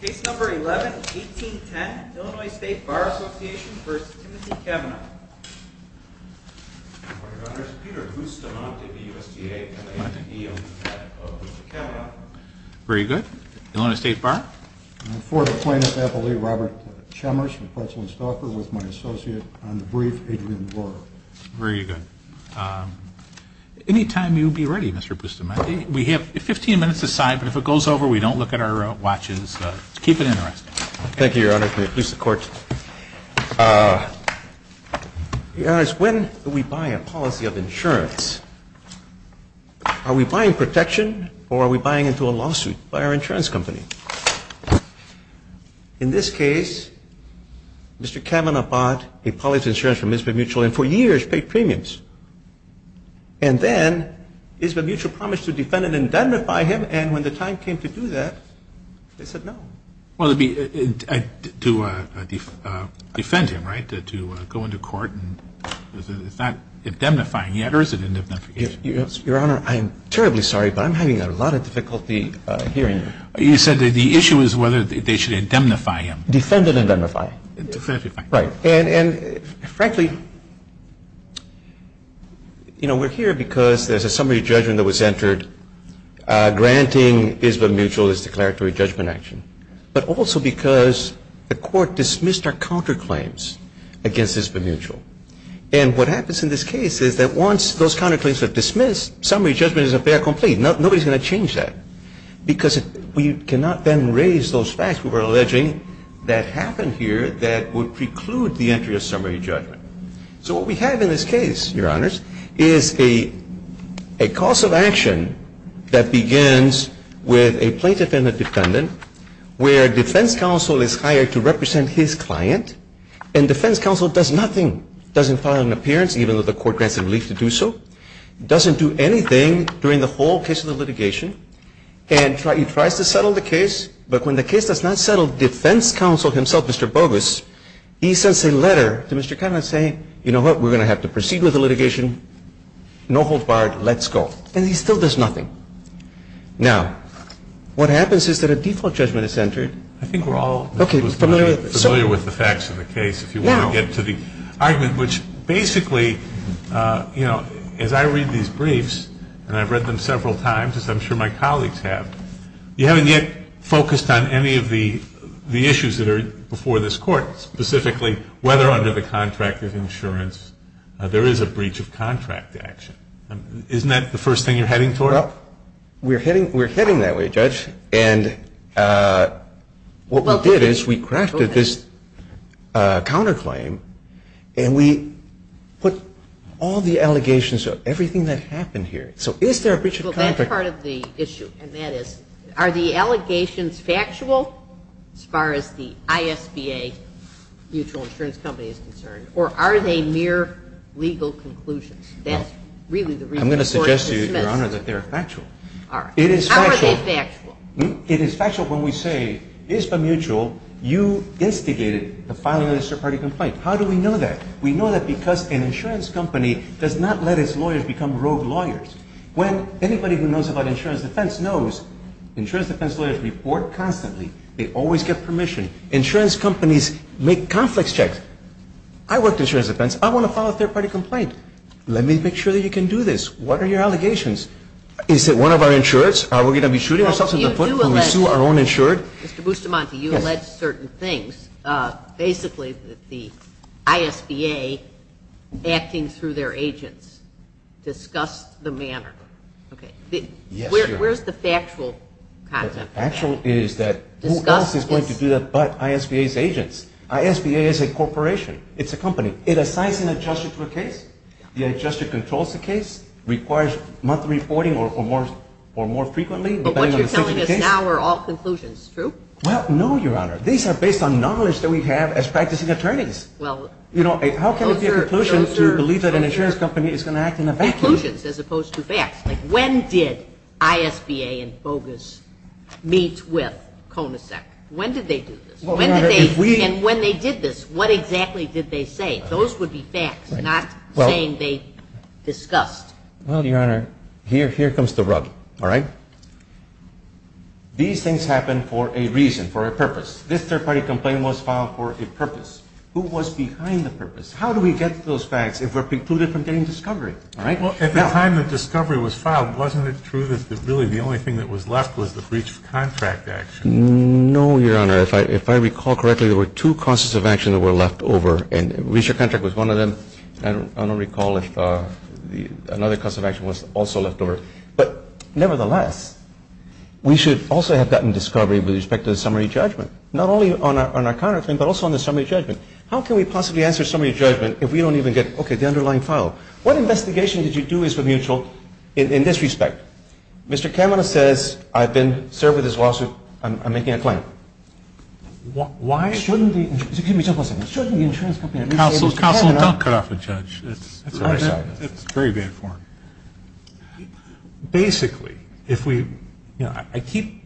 Case number 11-1810, Illinois State Bar Association v. Timothy Cavenagh. Good morning, Your Honors. Peter Bustamante, BUSDA, and I am the ADO of Cavenagh. Very good. Illinois State Bar? I am a former plaintiff appellee, Robert Chemmers from Pretzel and Stauffer, with my associate on the brief, Adrian Brewer. Very good. Anytime you'll be ready, Mr. Bustamante. We have 15 minutes to sign, but if it goes over, we don't look at our watches. Keep it interesting. Thank you, Your Honors. May it please the Court. Your Honors, when we buy a policy of insurance, are we buying protection or are we buying into a lawsuit by our insurance company? In this case, Mr. Cavenagh bought a policy of insurance from Ismael Mutual and for years paid premiums. And then Ismael Mutual promised to defend and indemnify him, and when the time came to do that, they said no. Well, to defend him, right, to go into court, it's not indemnifying yet, or is it indemnification? Your Honor, I am terribly sorry, but I'm having a lot of difficulty hearing you. You said that the issue is whether they should indemnify him. Defend and indemnify. Right. And frankly, you know, we're here because there's a summary judgment that was entered granting Ismael Mutual this declaratory judgment action, but also because the Court dismissed our counterclaims against Ismael Mutual. And what happens in this case is that once those counterclaims are dismissed, summary judgment is a fair complaint. Nobody's going to change that, because we cannot then raise those facts we were alleging that happened here that would preclude the entry of summary judgment. So what we have in this case, Your Honors, is a cause of action that begins with a plaintiff and a defendant where defense counsel is hired to represent his client, and defense counsel does nothing, doesn't file an appearance, even though the Court grants the relief to do so, doesn't do anything during the whole case of the litigation, and he tries to settle the case. But when the case does not settle, defense counsel himself, Mr. Bogus, he sends a letter to Mr. Conlon saying, you know what, we're going to have to proceed with the litigation, no hold barred, let's go. And he still does nothing. Now, what happens is that a default judgment is entered. I think we're all familiar with the facts of the case. If you want to get to the argument, which basically, you know, as I read these briefs, and I've read them several times, as I'm sure my colleagues have, you haven't yet focused on any of the issues that are before this Court, specifically whether under the contract of insurance there is a breach of contract action. Isn't that the first thing you're heading toward? Well, we're heading that way, Judge. And what we did is we crafted this counterclaim, and we put all the allegations of everything that happened here. So is there a breach of contract? Well, that's part of the issue, and that is, are the allegations factual as far as the ISBA mutual insurance company is concerned, or are they mere legal conclusions? That's really the reason the Court dismissed them. Well, I'm going to suggest to you, Your Honor, that they are factual. All right. It is factual. How are they factual? It is factual when we say, ISBA mutual, you instigated the filing of a third-party complaint. How do we know that? We know that because an insurance company does not let its lawyers become rogue lawyers. When anybody who knows about insurance defense knows, insurance defense lawyers report constantly. They always get permission. Insurance companies make conflicts checks. I worked insurance defense. I want to file a third-party complaint. Let me make sure that you can do this. What are your allegations? Is it one of our insurers? Are we going to be shooting ourselves in the foot when we sue our own insured? Mr. Bustamante, you alleged certain things. Basically, the ISBA, acting through their agents, discussed the manner. Okay. Where is the factual content? The factual is that who else is going to do that but ISBA's agents? ISBA is a corporation. It's a company. It assigns an adjuster to a case. The adjuster controls the case. It requires monthly reporting or more frequently. But what you're telling us now are all conclusions, true? Well, no, Your Honor. These are based on knowledge that we have as practicing attorneys. How can it be a conclusion to believe that an insurance company is going to act in a vacuum? Conclusions as opposed to facts. Like when did ISBA and FOGAS meet with CONASEC? When did they do this? And when they did this, what exactly did they say? Those would be facts, not saying they discussed. Well, Your Honor, here comes the rub, all right? These things happen for a reason, for a purpose. This third-party complaint was filed for a purpose. Who was behind the purpose? How do we get to those facts if we're precluded from getting discovery? Well, at the time the discovery was filed, wasn't it true that really the only thing that was left was the breach of contract action? No, Your Honor. If I recall correctly, there were two causes of action that were left over, and breach of contract was one of them. I don't recall if another cause of action was also left over. But nevertheless, we should also have gotten discovery with respect to the summary judgment, not only on our contract claim but also on the summary judgment. How can we possibly answer summary judgment if we don't even get, okay, the underlying file? What investigation did you do as for mutual in this respect? Mr. Kamena says I've been served with this lawsuit. I'm making a claim. Why? Shouldn't the insurance company at least say that Mr. Kamena – Counsel, don't cut off the judge. It's very bad form. Basically, if we – you know, I keep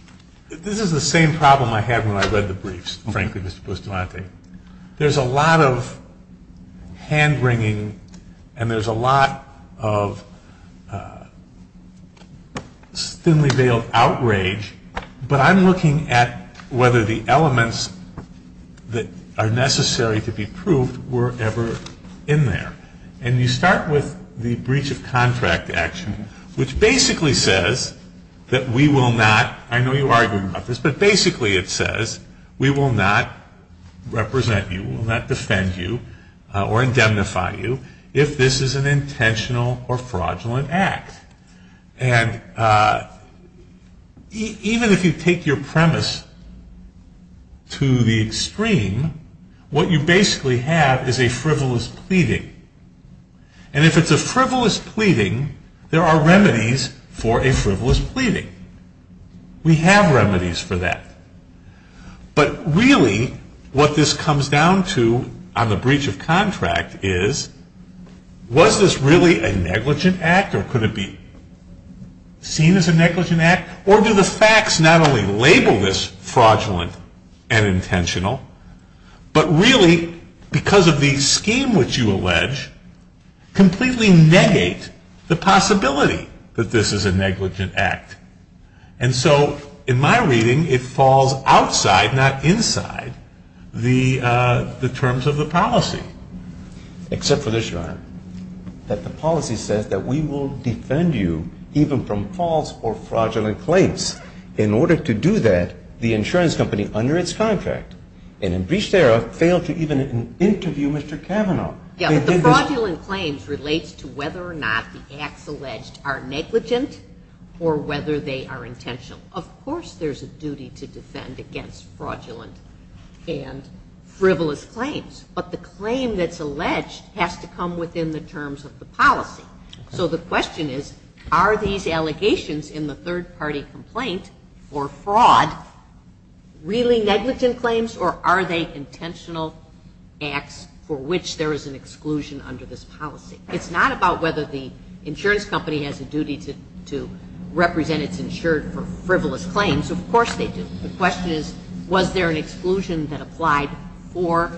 – this is the same problem I had when I read the briefs, frankly, Mr. Bustamante. There's a lot of hand wringing and there's a lot of thinly veiled outrage, but I'm looking at whether the elements that are necessary to be proved were ever in there. And you start with the breach of contract action, which basically says that we will not – represent you, will not defend you or indemnify you if this is an intentional or fraudulent act. And even if you take your premise to the extreme, what you basically have is a frivolous pleading. And if it's a frivolous pleading, there are remedies for a frivolous pleading. We have remedies for that. But really, what this comes down to on the breach of contract is, was this really a negligent act or could it be seen as a negligent act? Or do the facts not only label this fraudulent and intentional, but really, because of the scheme which you allege, completely negate the possibility that this is a negligent act. And so in my reading, it falls outside, not inside, the terms of the policy. Except for this, Your Honor, that the policy says that we will defend you even from false or fraudulent claims. In order to do that, the insurance company under its contract, in a breach thereof, failed to even interview Mr. Kavanaugh. Yeah, but the fraudulent claims relates to whether or not the acts alleged are negligent or whether they are intentional. Of course there's a duty to defend against fraudulent and frivolous claims. But the claim that's alleged has to come within the terms of the policy. So the question is, are these allegations in the third-party complaint for fraud really negligent claims, or are they intentional acts for which there is an exclusion under this policy? It's not about whether the insurance company has a duty to represent its insured for frivolous claims. Of course they do. The question is, was there an exclusion that applied for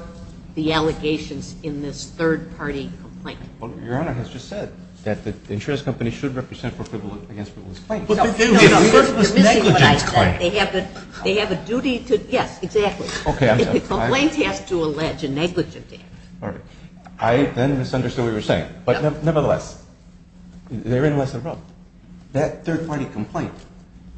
the allegations in this third-party complaint? Well, Your Honor has just said that the insurance company should represent for frivolous claims. But they do. They have a duty to – yes, exactly. Okay, I'm sorry. A complaint has to allege a negligent act. All right. I then misunderstood what you were saying. But nevertheless, they're in less than wrong. That third-party complaint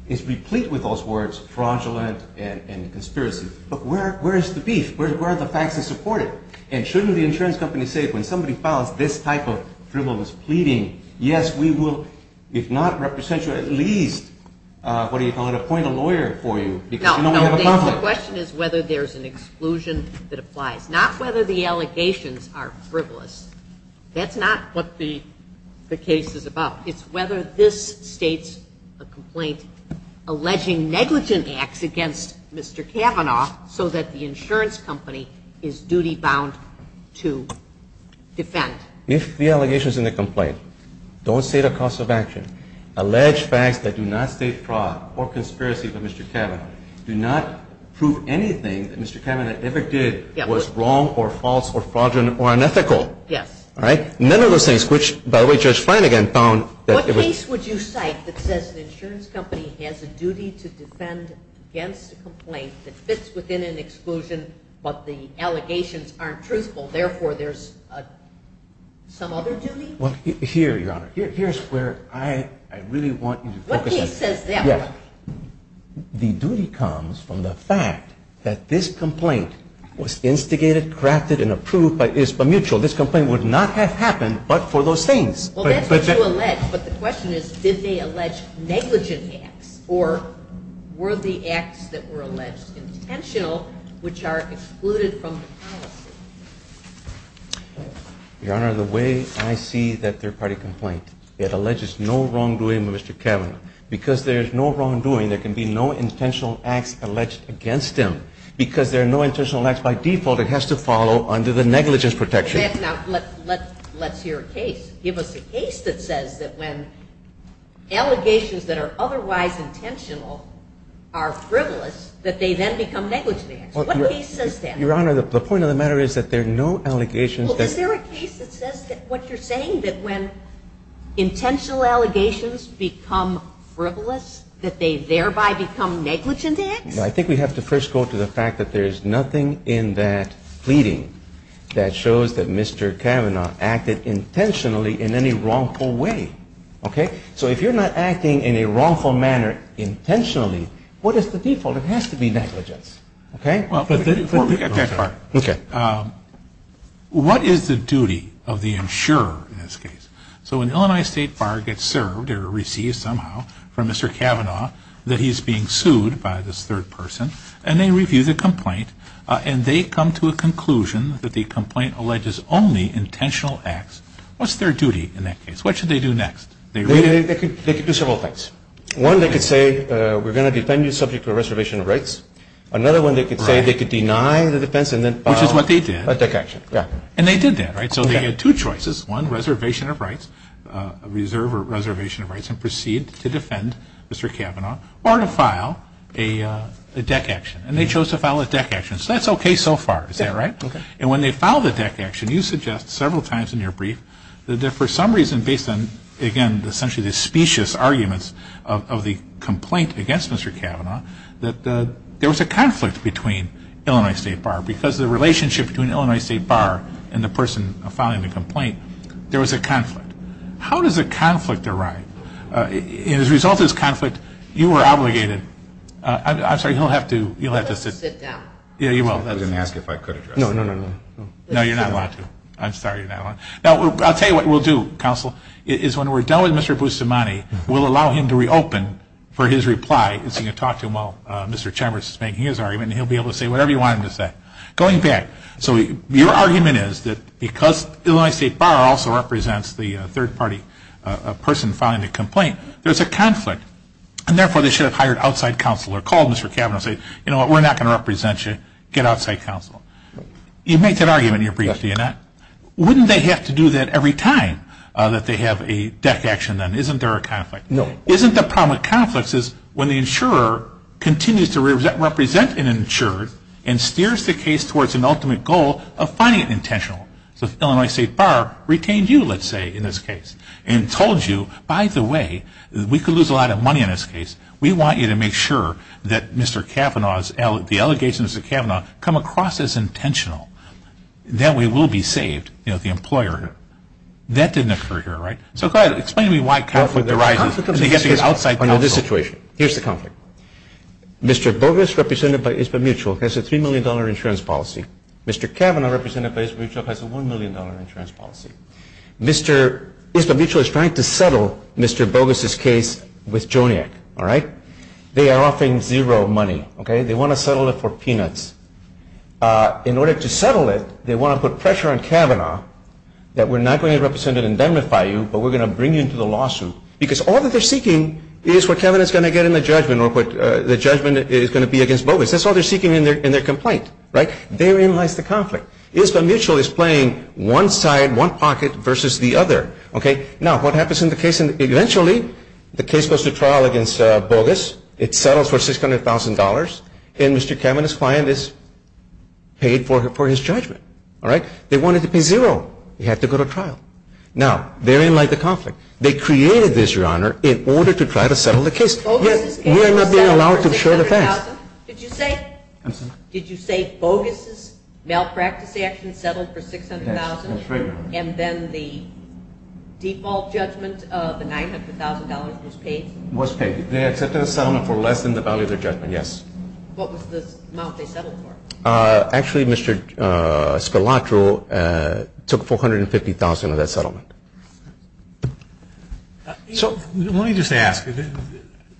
is replete with those words, fraudulent and conspiracy. But where is the beef? Where are the facts to support it? And shouldn't the insurance company say when somebody files this type of frivolous pleading, yes, we will, if not represent you, at least, what do you call it, appoint a lawyer for you? No, no. The question is whether there's an exclusion that applies. Not whether the allegations are frivolous. That's not what the case is about. It's whether this states a complaint alleging negligent acts against Mr. Kavanaugh so that the insurance company is duty-bound to defend. If the allegations in the complaint don't state a cause of action, allege facts that do not state fraud or conspiracy by Mr. Kavanaugh, do not prove anything that Mr. Kavanaugh ever did was wrong or false or fraudulent or unethical. Yes. All right? None of those things, which, by the way, Judge Flanagan found. What case would you cite that says the insurance company has a duty to defend against a complaint that fits within an exclusion but the allegations aren't truthful, therefore there's some other duty? Well, here, Your Honor, here's where I really want you to focus on. What case says that? Yeah. The duty comes from the fact that this complaint was instigated, crafted, and approved by ISPA Mutual. This complaint would not have happened but for those things. Well, that's what you allege, but the question is did they allege negligent acts or were the acts that were alleged intentional, which are excluded from the policy? Your Honor, the way I see that third-party complaint, it alleges no wrongdoing by Mr. Kavanaugh. Because there's no wrongdoing, there can be no intentional acts alleged against him. Because there are no intentional acts by default, it has to follow under the negligence protection. Now, let's hear a case. Give us a case that says that when allegations that are otherwise intentional are frivolous, that they then become negligent acts. What case says that? Your Honor, the point of the matter is that there are no allegations that are. Is there a case that says that what you're saying, that when intentional allegations become frivolous, that they thereby become negligent acts? I think we have to first go to the fact that there is nothing in that pleading that shows that Mr. Kavanaugh acted intentionally in any wrongful way. Okay? So if you're not acting in a wrongful manner intentionally, what is the default? It has to be negligence. Okay? Before we get that far, what is the duty of the insurer in this case? So when the Illinois State Bar gets served or receives somehow from Mr. Kavanaugh that he's being sued by this third person and they review the complaint and they come to a conclusion that the complaint alleges only intentional acts, what's their duty in that case? What should they do next? They could do several things. One, they could say, we're going to depend on you subject to a reservation of rights. Another one, they could say they could deny the defense and then file a DEC action. Which is what they did. And they did that, right? So they had two choices. One, reservation of rights, reserve or reservation of rights, and proceed to defend Mr. Kavanaugh or to file a DEC action. And they chose to file a DEC action. So that's okay so far. Is that right? And when they file the DEC action, you suggest several times in your brief that for some reason, based on, again, essentially the specious arguments of the complaint against Mr. Kavanaugh, that there was a conflict between Illinois State Bar. Because the relationship between Illinois State Bar and the person filing the complaint, there was a conflict. How does a conflict arrive? As a result of this conflict, you were obligated, I'm sorry, you'll have to sit down. Yeah, you will. I was going to ask if I could address that. No, no, no. No, you're not allowed to. I'm sorry, you're not allowed. Now, I'll tell you what we'll do, Counsel, is when we're done with Mr. Bussomani, we'll allow him to reopen for his reply so you can talk to him while Mr. Chambers is making his argument and he'll be able to say whatever you want him to say. Going back, so your argument is that because Illinois State Bar also represents the third party person filing the complaint, there's a conflict, and therefore they should have hired outside counsel or called Mr. Kavanaugh and said, you know what, we're not going to represent you. Get outside counsel. You make that argument in your brief, do you not? Wouldn't they have to do that every time that they have a deck action then? Isn't there a conflict? No. Isn't the problem with conflicts is when the insurer continues to represent an insurer and steers the case towards an ultimate goal of finding it intentional? So if Illinois State Bar retained you, let's say, in this case, and told you, by the way, we could lose a lot of money in this case, we want you to make sure that Mr. Kavanaugh's, the allegations of Mr. Kavanaugh come across as intentional, then we will be saved, you know, the employer. That didn't occur here, right? So go ahead, explain to me why conflict arises and they have to get outside counsel. Under this situation, here's the conflict. Mr. Bogus, represented by Isba Mutual, has a $3 million insurance policy. Mr. Kavanaugh, represented by Isba Mutual, has a $1 million insurance policy. Mr. Isba Mutual is trying to settle Mr. Bogus's case with Joniac, all right? They are offering zero money, okay? They want to settle it for peanuts. In order to settle it, they want to put pressure on Kavanaugh that we're not going to represent and indemnify you, but we're going to bring you into the lawsuit because all that they're seeking is what Kavanaugh's going to get in the judgment or what the judgment is going to be against Bogus. That's all they're seeking in their complaint, right? Therein lies the conflict. Isba Mutual is playing one side, one pocket versus the other, okay? Now, what happens in the case? Eventually, the case goes to trial against Bogus. It settles for $600,000, and Mr. Kavanaugh's client is paid for his judgment, all right? They wanted to pay zero. He had to go to trial. Now, therein lies the conflict. They created this, Your Honor, in order to try to settle the case. We are not being allowed to share the facts. Did you say Bogus' malpractice action settled for $600,000 and then the default judgment of the $900,000 was paid? It was paid. They accepted the settlement for less than the value of their judgment, yes. What was the amount they settled for? Actually, Mr. Scalatro took $450,000 of that settlement. Let me just ask.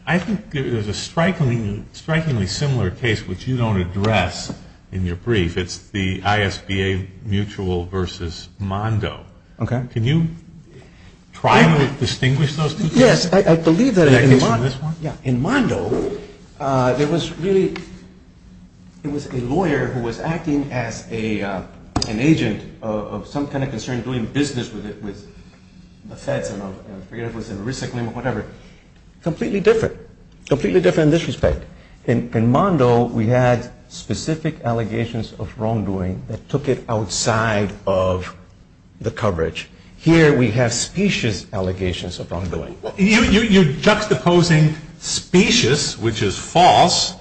I think there's a strikingly similar case which you don't address in your brief. It's the Isba Mutual versus Mondo. Okay. Can you try to distinguish those two cases? Yes. I believe that in Mondo, there was really a lawyer who was acting as an agent of some kind of concern, doing business with the Feds, and I forget if it was a risk claim or whatever. Completely different. Completely different in this respect. In Mondo, we had specific allegations of wrongdoing that took it outside of the coverage. Here, we have specious allegations of wrongdoing. You're juxtaposing specious, which is false,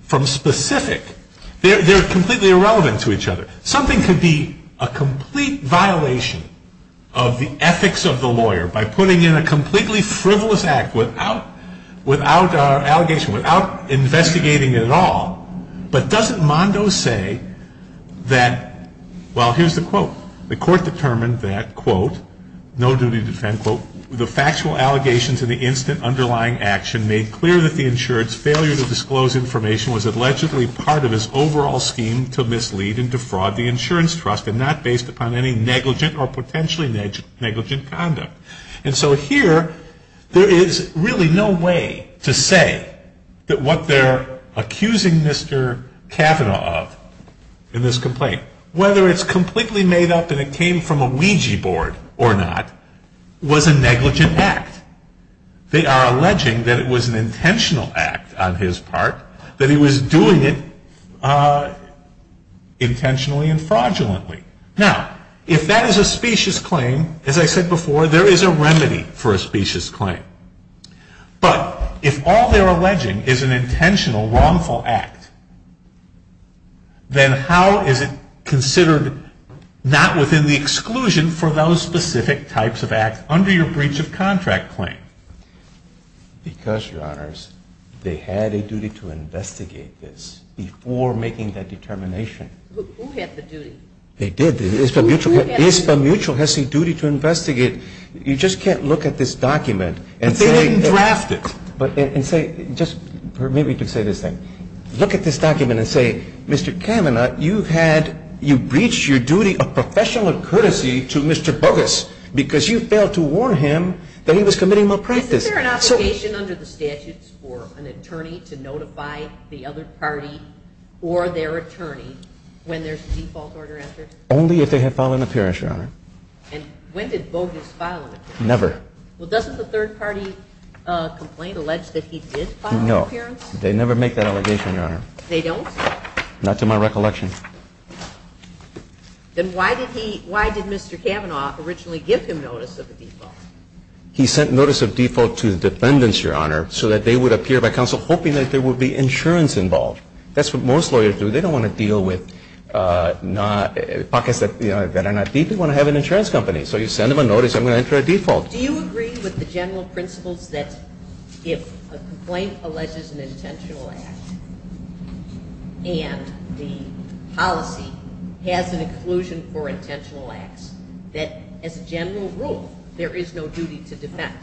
from specific. They're completely irrelevant to each other. Something could be a complete violation of the ethics of the lawyer by putting in a completely frivolous act without our allegation, without investigating it at all. But doesn't Mondo say that, well, here's the quote. The court determined that, quote, no duty to defend, quote, the factual allegations and the instant underlying action made clear that the insured's failure to disclose information was allegedly part of his overall scheme to mislead and defraud the insurance trust and not based upon any negligent or potentially negligent conduct. And so here, there is really no way to say that what they're accusing Mr. Kavanaugh of in this complaint, whether it's completely made up and it came from a Ouija board or not, was a negligent act. They are alleging that it was an intentional act on his part, that he was doing it intentionally and fraudulently. Now, if that is a specious claim, as I said before, there is a remedy for a specious claim. But if all they're alleging is an intentional, wrongful act, then how is it considered not within the exclusion for those specific types of acts under your breach of contract claim? Because, Your Honors, they had a duty to investigate this before making that determination. Who had the duty? They did. ESPA Mutual has a duty to investigate. You just can't look at this document and say... But they didn't draft it. Just permit me to say this thing. Look at this document and say, Mr. Kavanaugh, you had, you breached your duty of professional courtesy to Mr. Bogus because you failed to warn him that he was committing malpractice. Is there an obligation under the statutes for an attorney to notify the other party or their attorney when there's a default order entered? Only if they have filed an appearance, Your Honor. And when did Bogus file an appearance? Never. Well, doesn't the third party complaint allege that he did file an appearance? No. They never make that allegation, Your Honor. They don't? Not to my recollection. Then why did Mr. Kavanaugh originally give him notice of a default? He sent notice of default to the defendants, Your Honor, so that they would appear by counsel hoping that there would be insurance involved. That's what most lawyers do. They don't want to deal with pockets that are not deep. They want to have an insurance company. So you send them a notice, I'm going to enter a default. Do you agree with the general principles that if a complaint alleges an intentional act and the policy has an inclusion for intentional acts, that as a general rule there is no duty to defend?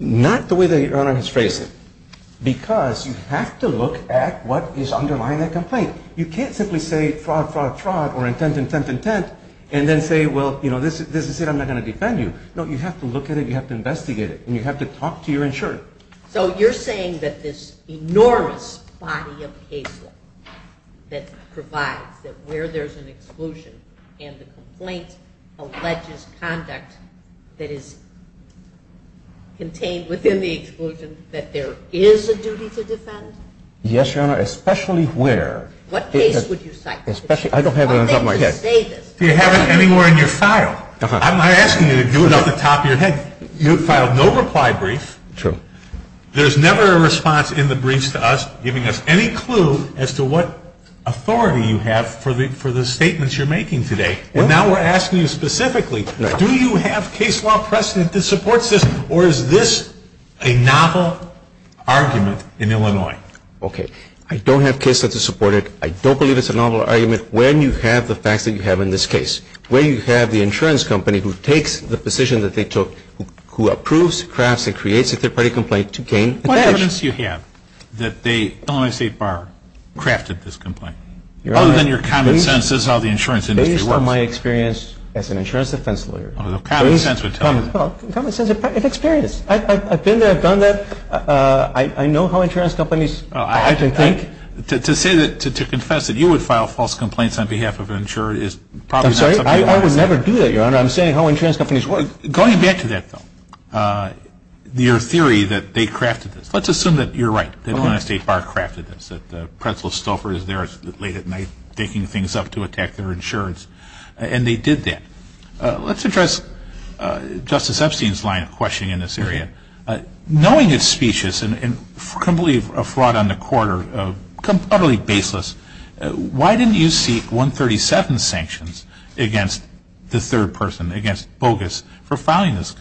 Not the way that Your Honor has phrased it, because you have to look at what is underlying that complaint. You can't simply say fraud, fraud, fraud, or intent, intent, intent, and then say, well, you know, this is it, I'm not going to defend you. No, you have to look at it, you have to investigate it, and you have to talk to your insurer. So you're saying that this enormous body of caseload that provides, that where there's an exclusion and the complaint alleges conduct that is contained within the exclusion, that there is a duty to defend? Yes, Your Honor, especially where? What case would you cite? I don't have it on the top of my head. You have it anywhere in your file. I'm not asking you to do it off the top of your head. You filed no reply brief. True. There's never a response in the briefs to us giving us any clue as to what authority you have for the statements you're making today. And now we're asking you specifically, do you have case law precedent that supports this, or is this a novel argument in Illinois? Okay. I don't have case law to support it. I don't believe it's a novel argument when you have the facts that you have in this case. Where you have the insurance company who takes the position that they took, who approves, crafts, and creates a third-party complaint to gain a badge. What evidence do you have that the Illinois State Bar crafted this complaint? Your Honor, based on my experience as an insurance defense lawyer. Based on common sense would tell me that. Common sense and experience. I've been there, I've done that. I know how insurance companies often think. To say that, to confess that you would file false complaints on behalf of an insurer is probably. I'm sorry. I would never do that, Your Honor. I'm saying how insurance companies work. Going back to that though, your theory that they crafted this. Let's assume that you're right. The Illinois State Bar crafted this. That Pretzel Stouffer is there late at night thinking things up to attack their insurance. And they did that. Let's address Justice Epstein's line of questioning in this area. Knowing it's specious and completely a fraud on the quarter, utterly baseless, why didn't you seek 137 sanctions against the third person, against Bogus, for filing this,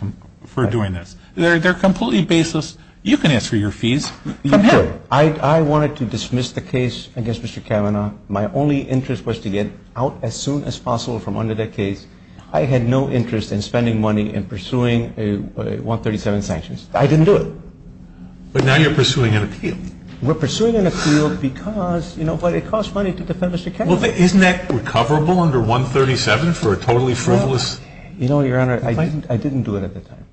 for doing this? They're completely baseless. You can answer your fees from him. I wanted to dismiss the case against Mr. Kavanaugh. My only interest was to get out as soon as possible from under that case. I had no interest in spending money in pursuing 137 sanctions. I didn't do it. But now you're pursuing an appeal. We're pursuing an appeal because, you know, it costs money to defend Mr. Kavanaugh. Isn't that recoverable under 137 for a totally frivolous? You know, Your Honor, I didn't do it at the time.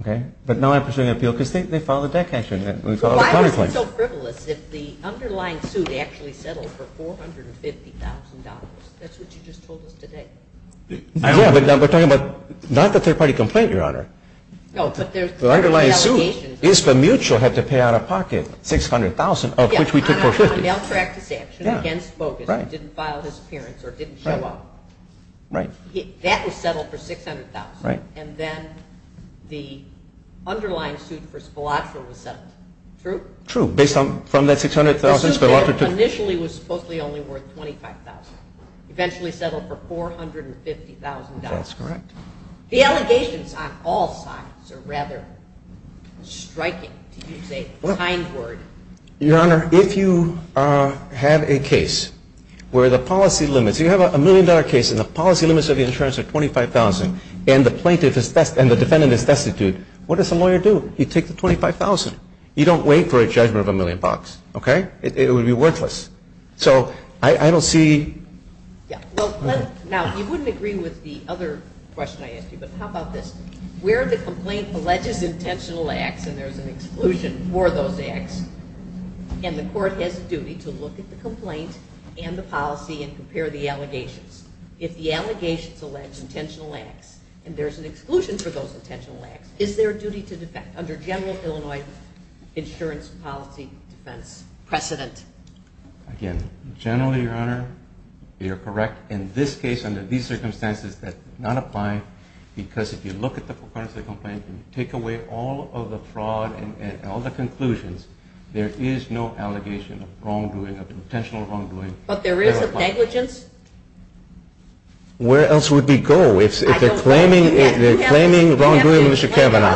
Okay? But now I'm pursuing an appeal because they filed a death sanction. Why was he so frivolous if the underlying suit actually settled for $450,000? That's what you just told us today. Yeah, but we're talking about not the third-party complaint, Your Honor. No, but there's allegations. The underlying suit is for Mutual had to pay out of pocket $600,000, of which we took $450,000. Yeah, on a malpractice action against Bogus who didn't file his appearance or didn't show up. Right. That was settled for $600,000. Right. And then the underlying suit for Spillatra was settled. True? True, based on that $600,000 Spillatra took. The suit initially was supposedly only worth $25,000. Eventually settled for $450,000. That's correct. The allegations on all sides are rather striking, to use a kind word. Your Honor, if you have a case where the policy limits, if you have a million-dollar case and the policy limits of the insurance are $25,000 and the plaintiff is, and the defendant is destitute, what does the lawyer do? He takes the $25,000. You don't wait for a judgment of a million bucks. Okay? It would be worthless. So I don't see. Now, you wouldn't agree with the other question I asked you, but how about this? Where the complaint alleges intentional acts and there's an exclusion for those acts and the court has a duty to look at the complaint and the policy and compare the allegations. If the allegations allege intentional acts and there's an exclusion for those intentional acts, is there a duty to defect under general Illinois insurance policy defense precedent? Again, generally, Your Honor, you're correct. In this case, under these circumstances, that does not apply because if you look at the components of the complaint and take away all of the fraud and all the conclusions, there is no allegation of wrongdoing, of intentional wrongdoing. But there is a negligence? Where else would we go? If they're claiming wrongdoing, Mr. Kavanaugh,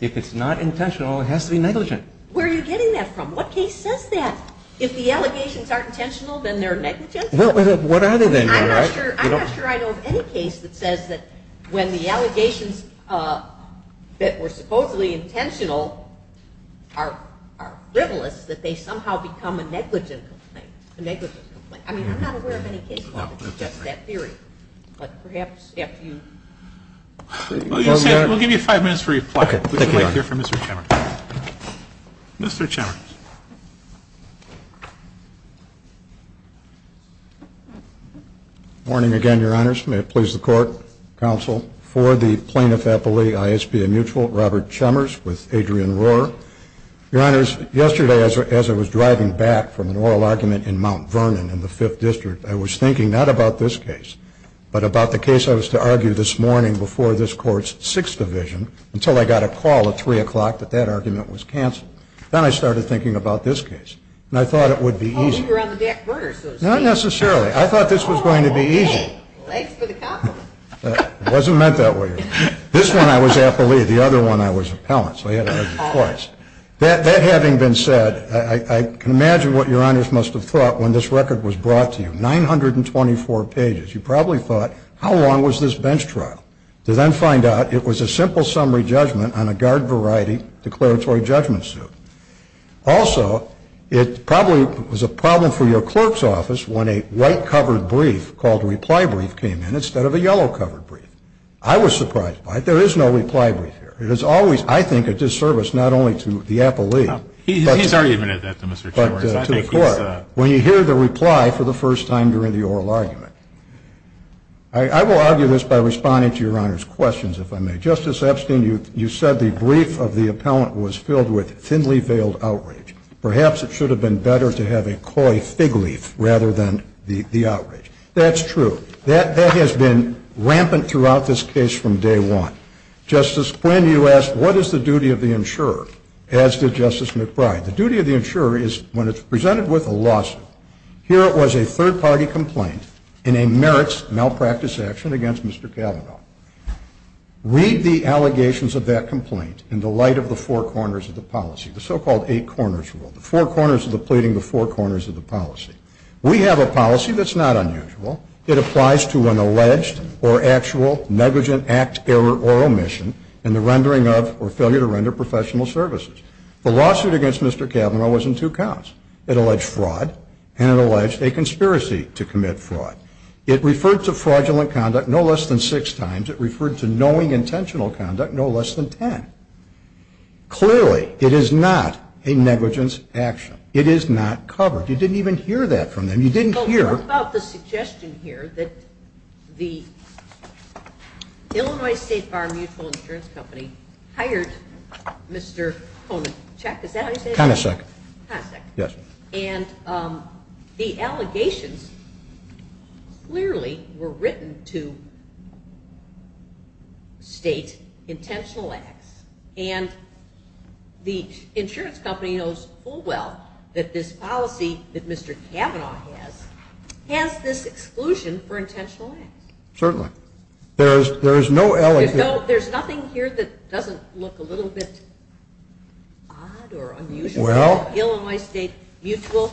if it's not intentional, it has to be negligent. Where are you getting that from? What case says that? If the allegations aren't intentional, then they're negligent? What are they then, Your Honor? I'm not sure I know of any case that says that when the allegations that were supposedly intentional are frivolous, that they somehow become a negligent complaint. I mean, I'm not aware of any case that suggests that theory. But perhaps if you... We'll give you five minutes for reply. We can wait here for Mr. Chemers. Mr. Chemers. Morning again, Your Honors. May it please the Court, Counsel, for the Plaintiff-Appellee, I.S.P.A. Mutual, Robert Chemers with Adrian Rohr. Your Honors, yesterday as I was driving back from an oral argument in Mount Vernon in the 5th District, I was thinking not about this case, but about the case I was to argue this morning before this Court's 6th Division until I got a call at 3 o'clock that that argument was canceled. Then I started thinking about this case. And I thought it would be easy. Oh, we were on the back burner. Not necessarily. I thought this was going to be easy. Thanks for the compliment. It wasn't meant that way. This one I was appellee. The other one I was appellant. So I had to argue twice. That having been said, I can imagine what Your Honors must have thought when this record was brought to you. 924 pages. You probably thought, how long was this bench trial? To then find out it was a simple summary judgment on a guard variety declaratory judgment suit. Also, it probably was a problem for your clerk's office when a white-covered brief called a reply brief came in instead of a yellow-covered brief. I was surprised by it. There is no reply brief here. It is always, I think, a disservice not only to the appellee. He's argumentative, Mr. Chambers. But to the court. When you hear the reply for the first time during the oral argument. I will argue this by responding to Your Honors' questions, if I may. Justice Epstein, you said the brief of the appellant was filled with thinly-veiled outrage. Perhaps it should have been better to have a coy fig leaf rather than the outrage. That's true. That has been rampant throughout this case from day one. Justice Quinn, you asked what is the duty of the insurer. As did Justice McBride. The duty of the insurer is when it's presented with a lawsuit. Here it was a third-party complaint in a merits malpractice action against Mr. Kavanaugh. Read the allegations of that complaint in the light of the four corners of the policy. The so-called eight corners rule. The four corners of the pleading, the four corners of the policy. We have a policy that's not unusual. It applies to an alleged or actual negligent act, error, or omission in the rendering of or failure to render professional services. The lawsuit against Mr. Kavanaugh was in two counts. It alleged fraud and it alleged a conspiracy to commit fraud. It referred to fraudulent conduct no less than six times. It referred to knowing intentional conduct no less than ten. Clearly, it is not a negligence action. It is not covered. You didn't even hear that from them. You didn't hear. What about the suggestion here that the Illinois State Bar Mutual Insurance Company hired Mr. Koenigsegg, is that how you say his name? Koenigsegg. Koenigsegg. Yes. And the allegations clearly were written to state intentional acts. And the insurance company knows full well that this policy that Mr. Kavanaugh has has this exclusion for intentional acts. Certainly. There is no allegation. There's nothing here that doesn't look a little bit odd or unusual. Well. Illinois State Mutual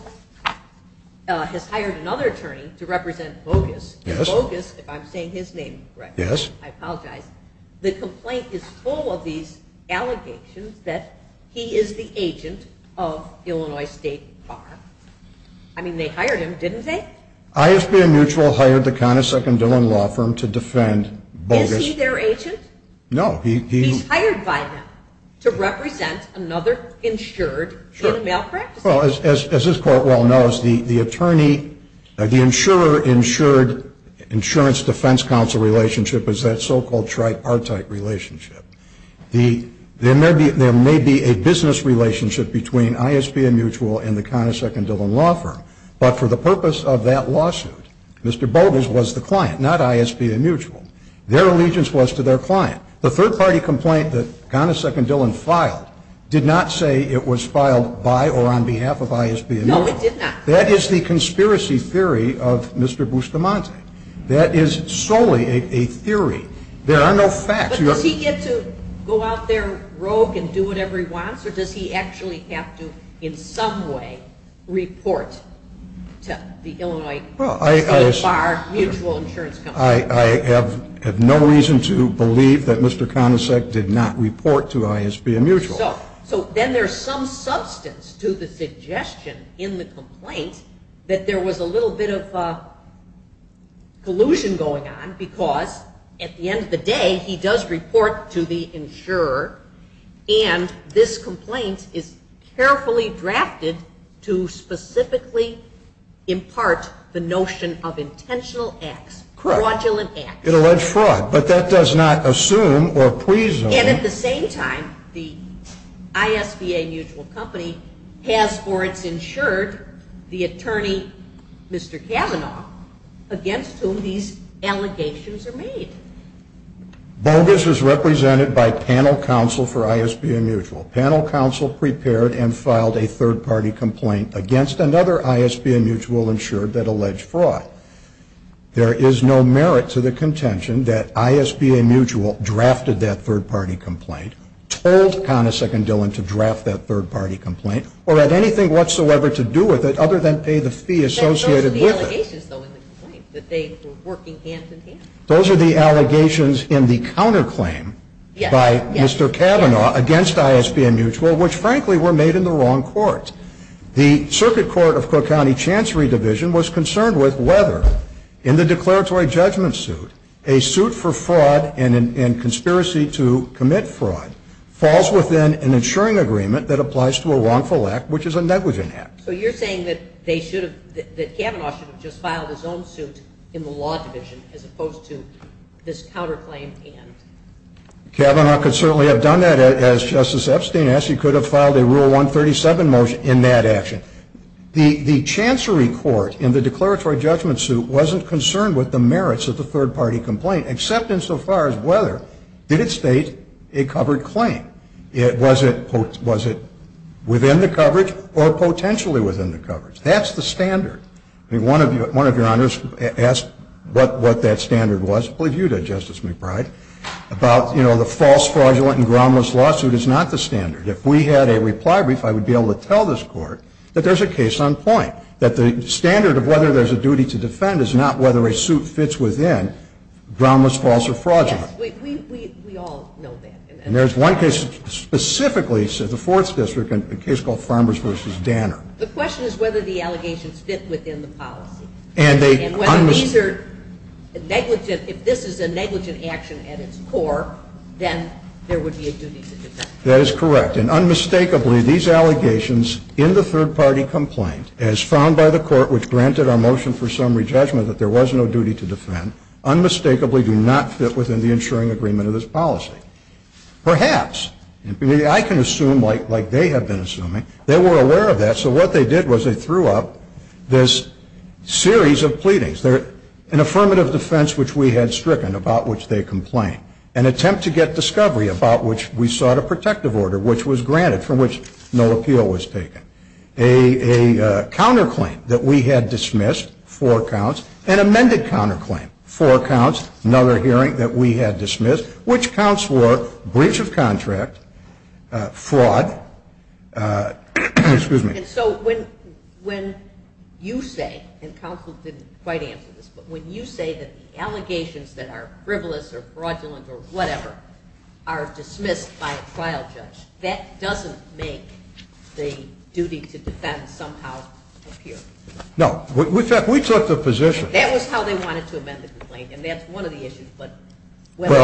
has hired another attorney to represent Bogus. Bogus, if I'm saying his name correctly. Yes. I apologize. The complaint is full of these allegations that he is the agent of Illinois State Bar. I mean, they hired him, didn't they? ISBN Mutual hired the Koenigsegg and Dillon Law Firm to defend Bogus. Is he their agent? No. He's hired by them to represent another insured in a malpractice case. Sure. Well, as this Court well knows, the attorney, the insurer-insured insurance defense counsel relationship is that so-called tripartite relationship. There may be a business relationship between ISBN Mutual and the Koenigsegg and Dillon Law Firm. But for the purpose of that lawsuit, Mr. Bogus was the client, not ISBN Mutual. Their allegiance was to their client. The third-party complaint that Koenigsegg and Dillon filed did not say it was filed by or on behalf of ISBN Mutual. No, it did not. That is the conspiracy theory of Mr. Bustamante. That is solely a theory. There are no facts. But does he get to go out there rogue and do whatever he wants, or does he actually have to in some way report to the Illinois State Bar Mutual insurance company? I have no reason to believe that Mr. Koenigsegg did not report to ISBN Mutual. So then there's some substance to the suggestion in the complaint that there was a little bit of collusion going on because at the end of the day, he does report to the insurer, and this complaint is carefully drafted to specifically impart the notion of intentional acts, fraudulent acts. It alleged fraud, but that does not assume or presume. And at the same time, the ISBN Mutual company has for its insured the attorney, Mr. Kavanaugh, against whom these allegations are made. Bogus is represented by panel counsel for ISBN Mutual. Panel counsel prepared and filed a third-party complaint against another ISBN Mutual insured that alleged fraud. There is no merit to the contention that ISBN Mutual drafted that third-party complaint, told Koenigsegg and Dillon to draft that third-party complaint, or had anything whatsoever to do with it other than pay the fee associated with it. Those are the allegations, though, in the complaint, that they were working hand-in-hand. Those are the allegations in the counterclaim by Mr. Kavanaugh against ISBN Mutual, which, frankly, were made in the wrong court. The Circuit Court of Cook County Chancery Division was concerned with whether, in the declaratory judgment suit, a suit for fraud and conspiracy to commit fraud falls within an insuring agreement that applies to a wrongful act, which is a negligent act. So you're saying that they should have, that Kavanaugh should have just filed his own suit in the law division, as opposed to this counterclaim? Kavanaugh could certainly have done that. As Justice Epstein asked, he could have filed a Rule 137 motion in that action. The Chancery Court, in the declaratory judgment suit, wasn't concerned with the merits of the third-party complaint, except insofar as whether it did state a covered claim. Was it within the coverage or potentially within the coverage? That's the standard. One of Your Honors asked what that standard was. I believe you did, Justice McBride, about, you know, the false, fraudulent, and groundless lawsuit is not the standard. If we had a reply brief, I would be able to tell this Court that there's a case on point, that the standard of whether there's a duty to defend is not whether a suit fits within groundless, false, or fraudulent. Yes. We all know that. And there's one case specifically, the Fourth District, a case called Farmers v. Danner. The question is whether the allegations fit within the policy. And whether these are negligent. If this is a negligent action at its core, then there would be a duty to defend. That is correct. And unmistakably, these allegations in the third-party complaint, as found by the Court which granted our motion for summary judgment that there was no duty to defend, unmistakably do not fit within the ensuring agreement of this policy. Perhaps. I can assume, like they have been assuming, they were aware of that. So what they did was they threw up this series of pleadings. An affirmative defense which we had stricken, about which they complained. An attempt to get discovery, about which we sought a protective order, which was granted, from which no appeal was taken. A counterclaim that we had dismissed, four counts. An amended counterclaim, four counts. Another hearing that we had dismissed. Which counts were breach of contract, fraud, excuse me. And so when you say, and counsel didn't quite answer this, but when you say that the allegations that are frivolous or fraudulent or whatever are dismissed by a trial judge, that doesn't make the duty to defend somehow appear. No. We took the position. That was how they wanted to amend the complaint. And that's one of the issues, whether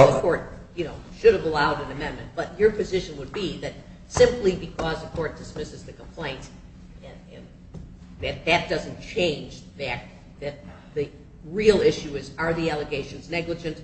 the Court should have allowed an amendment. But your position would be that simply because the Court dismisses the complaint, that that doesn't change that the real issue is, are the allegations negligent?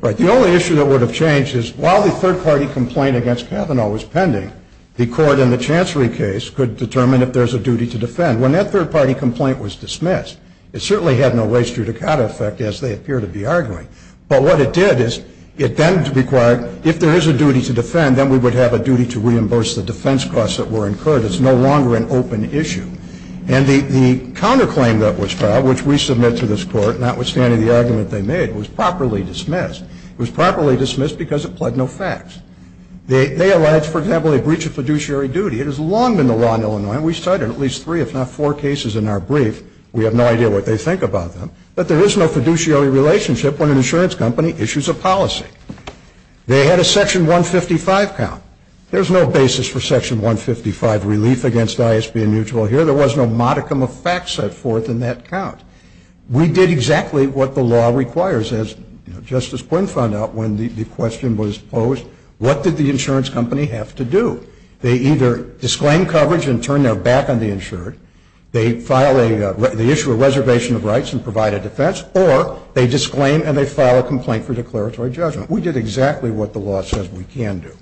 Right. The only issue that would have changed is, while the third-party complaint against Cavanaugh was pending, the Court in the Chancery case could determine if there's a duty to defend. When that third-party complaint was dismissed, it certainly had no race judicata effect, as they appear to be arguing. But what it did is it then required, if there is a duty to defend, then we would have a duty to reimburse the defense costs that were incurred. It's no longer an open issue. And the counterclaim that was filed, which we submit to this Court, notwithstanding the argument they made, was properly dismissed. It was properly dismissed because it pled no facts. They allege, for example, a breach of fiduciary duty. It has long been the law in Illinois, and we cite it in at least three, if not four cases in our brief. We have no idea what they think about them. But there is no fiduciary relationship when an insurance company issues a policy. They had a Section 155 count. There's no basis for Section 155 relief against ISB and mutual here. There was no modicum of facts set forth in that count. We did exactly what the law requires. As Justice Quinn found out when the question was posed, what did the insurance company have to do? They either disclaim coverage and turn their back on the insured. They issue a reservation of rights and provide a defense, or they disclaim and they file a complaint for declaratory judgment. We did exactly what the law says we can do.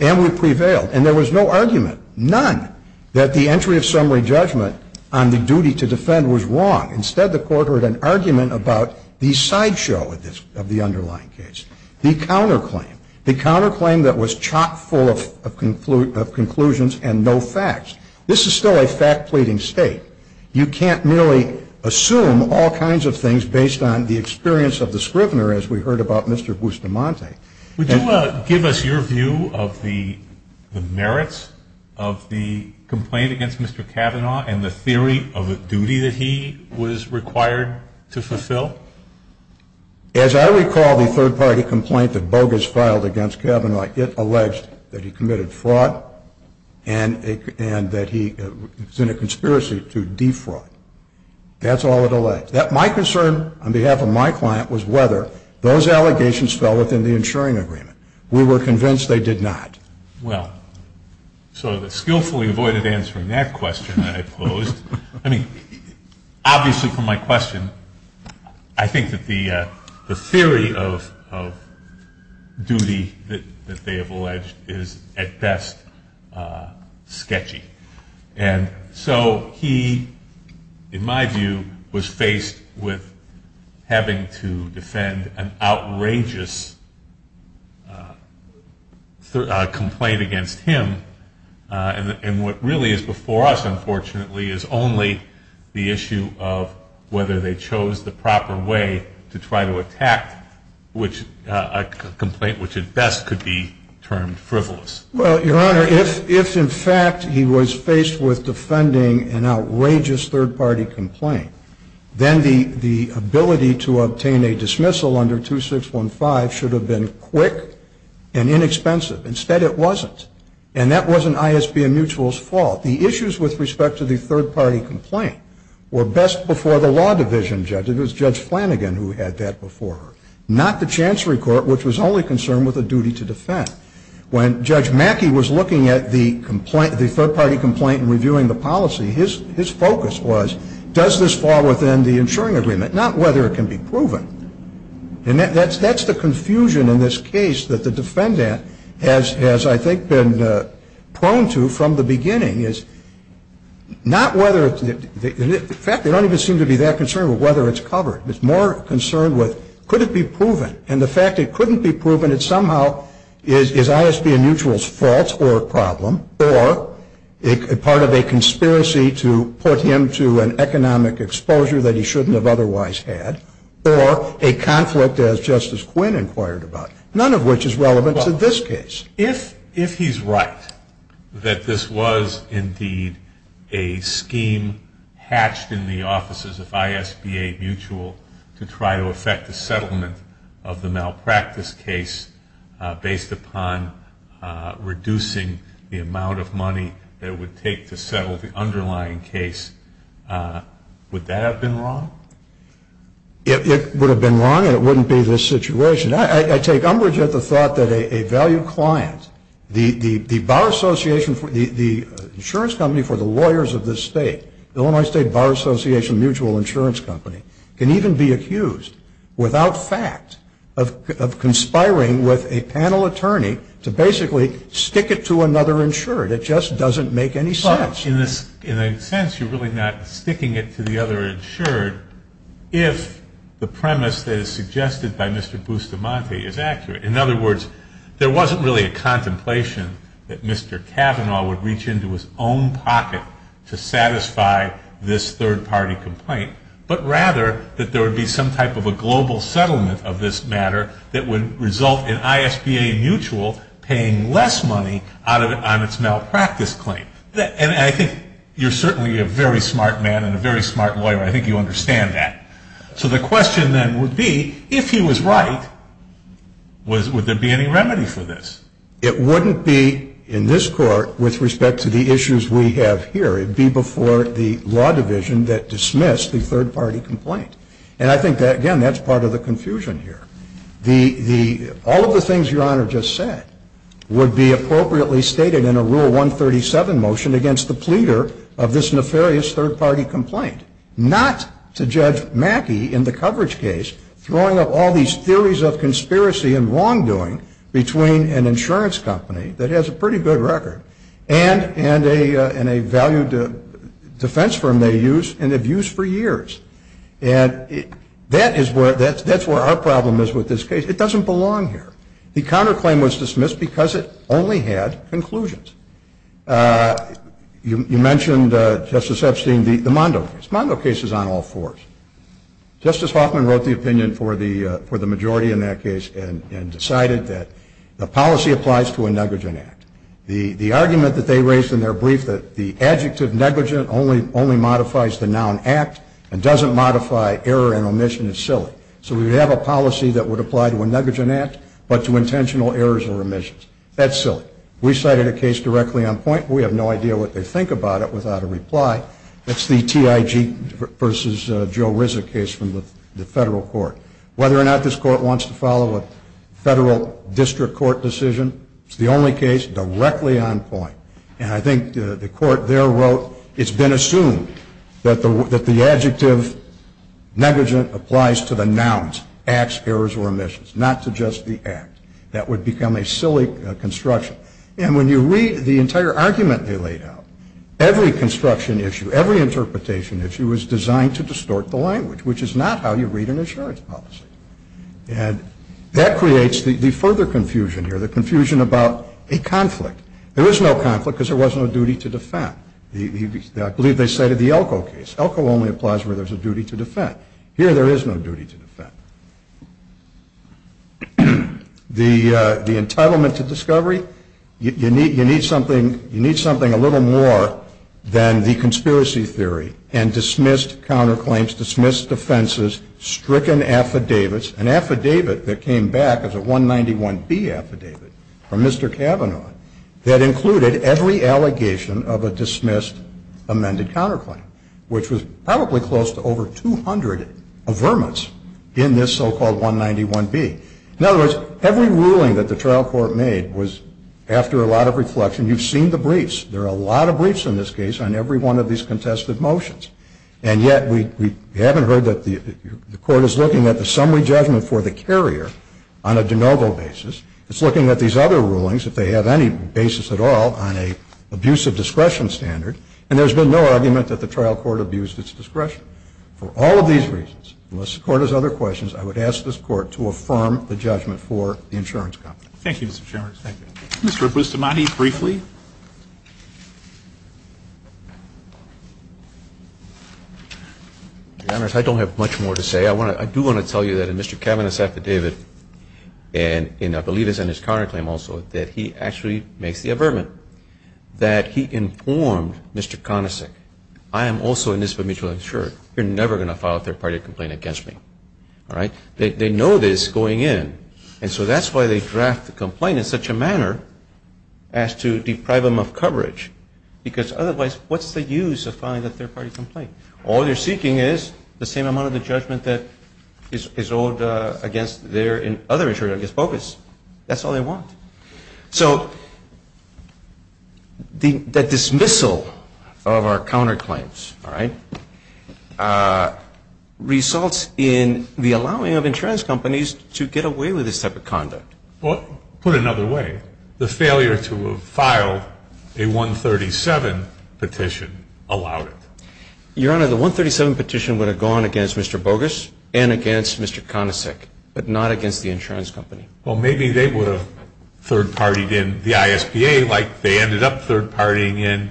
And we prevailed. And there was no argument, none, that the entry of summary judgment on the duty to defend was wrong. Instead, the Court heard an argument about the sideshow of the underlying case, the counterclaim, the counterclaim that was chock full of conclusions and no facts. This is still a fact-pleading state. You can't merely assume all kinds of things based on the experience of the scrivener, as we heard about Mr. Bustamante. Would you give us your view of the merits of the complaint against Mr. Kavanaugh and the theory of the duty that he was required to fulfill? As I recall the third-party complaint that Bogus filed against Kavanaugh, it alleged that he committed fraud and that he was in a conspiracy to defraud. That's all it alleged. My concern on behalf of my client was whether those allegations fell within the insuring agreement. We were convinced they did not. Well, so the skillfully avoided answering that question that I posed. Obviously, from my question, I think that the theory of duty that they have alleged is, at best, sketchy. So he, in my view, was faced with having to defend an outrageous complaint against him. And what really is before us, unfortunately, is only the issue of whether they chose the proper way to try to attack a complaint which, at best, could be termed frivolous. Well, Your Honor, if, in fact, he was faced with defending an outrageous third-party complaint, then the ability to obtain a dismissal under 2615 should have been quick and inexpensive. Instead, it wasn't. And that wasn't ISB and Mutual's fault. The issues with respect to the third-party complaint were best before the law division judge. It was Judge Flanagan who had that before her, not the Chancery Court, which was only concerned with a duty to defend. When Judge Mackey was looking at the third-party complaint and reviewing the policy, his focus was, does this fall within the insuring agreement, not whether it can be proven. And that's the confusion in this case that the defendant has, I think, been prone to from the beginning, is not whether, in fact, they don't even seem to be that concerned with whether it's covered. It's more concerned with could it be proven. And the fact it couldn't be proven, it somehow is ISB and Mutual's fault or problem or part of a conspiracy to put him to an economic exposure that he shouldn't have otherwise had or a conflict, as Justice Quinn inquired about, none of which is relevant to this case. If he's right that this was, indeed, a scheme hatched in the offices of ISB and Mutual to try to effect a settlement of the malpractice case based upon reducing the amount of money that it would take to settle the underlying case, would that have been wrong? It would have been wrong, and it wouldn't be this situation. I take umbrage at the thought that a valued client, the insurance company for the lawyers of this state, the Illinois State Bar Association Mutual Insurance Company, can even be accused, without fact, of conspiring with a panel attorney to basically stick it to another insured. It just doesn't make any sense. In a sense, you're really not sticking it to the other insured if the premise that is suggested by Mr. Bustamante is accurate. In other words, there wasn't really a contemplation that Mr. Kavanaugh would reach into his own pocket to satisfy this third-party complaint, but rather that there would be some type of a global settlement of this matter that would result in ISBA Mutual paying less money on its malpractice claim. And I think you're certainly a very smart man and a very smart lawyer. I think you understand that. So the question then would be, if he was right, would there be any remedy for this? It wouldn't be in this court with respect to the issues we have here. It would be before the law division that dismissed the third-party complaint. And I think that, again, that's part of the confusion here. All of the things Your Honor just said would be appropriately stated in a Rule 137 motion against the pleader of this nefarious third-party complaint, not to Judge Mackey in the coverage case throwing up all these theories of conspiracy and wrongdoing between an insurance company that has a pretty good record and a valued defense firm they use and have used for years. And that's where our problem is with this case. It doesn't belong here. The counterclaim was dismissed because it only had conclusions. You mentioned, Justice Epstein, the Mondo case. The Mondo case is on all fours. Justice Hoffman wrote the opinion for the majority in that case and decided that the policy applies to a negligent act. The argument that they raised in their brief that the adjective negligent only modifies the noun act and doesn't modify error and omission is silly. So we have a policy that would apply to a negligent act but to intentional errors or omissions. That's silly. We cited a case directly on point. We have no idea what they think about it without a reply. That's the TIG v. Joe Rizza case from the federal court. Whether or not this court wants to follow a federal district court decision, it's the only case directly on point. And I think the court there wrote it's been assumed that the adjective negligent applies to the nouns, acts, errors, or omissions, not to just the act. That would become a silly construction. And when you read the entire argument they laid out, every construction issue, every interpretation issue is designed to distort the language, which is not how you read an insurance policy. And that creates the further confusion here, the confusion about a conflict. There is no conflict because there was no duty to defend. I believe they cited the Elko case. Elko only applies where there's a duty to defend. Here there is no duty to defend. The entitlement to discovery, you need something a little more than the conspiracy theory and dismissed counterclaims, dismissed offenses, stricken affidavits. An affidavit that came back as a 191B affidavit from Mr. Kavanaugh that included every allegation of a dismissed amended counterclaim, which was probably close to over 200 averments in this so-called 191B. In other words, every ruling that the trial court made was after a lot of reflection. You've seen the briefs. There are a lot of briefs in this case on every one of these contested motions. And yet we haven't heard that the Court is looking at the summary judgment for the carrier on a de novo basis. It's looking at these other rulings, if they have any basis at all, on an abuse of discretion standard. And there's been no argument that the trial court abused its discretion. For all of these reasons, unless the Court has other questions, I would ask this Court to affirm the judgment for the insurance company. Thank you, Mr. Chairman. Thank you. Mr. Bustamante, briefly. Your Honors, I don't have much more to say. I do want to tell you that in Mr. Kavanaugh's affidavit, and I believe it's in his counterclaim also, that he actually makes the avertment that he informed Mr. Conisic, I am also indisputably sure you're never going to file a third-party complaint against me. They know this going in. And so that's why they draft the complaint in such a manner as to deprive them of coverage. Because otherwise, what's the use of filing a third-party complaint? All they're seeking is the same amount of the judgment that is owed against their and other insurance companies. That's all they want. Results in the allowing of insurance companies to get away with this type of conduct. Put another way, the failure to have filed a 137 petition allowed it. Your Honor, the 137 petition would have gone against Mr. Bogus and against Mr. Conisic, but not against the insurance company. Well, maybe they would have third-partied in the ISPA like they ended up third-partying in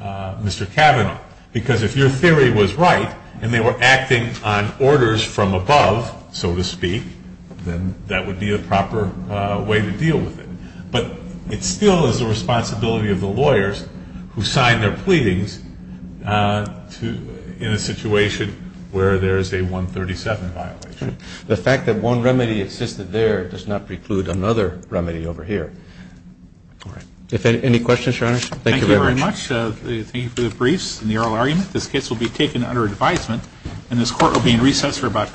Mr. Kavanaugh. Because if your theory was right and they were acting on orders from above, so to speak, then that would be a proper way to deal with it. But it still is the responsibility of the lawyers who sign their pleadings in a situation where there is a 137 violation. The fact that one remedy existed there does not preclude another remedy over here. All right. Any questions, Your Honor? Thank you very much. Thank you for the briefs and the oral argument. This case will be taken under advisement, and this court will be in recess for about 20 minutes.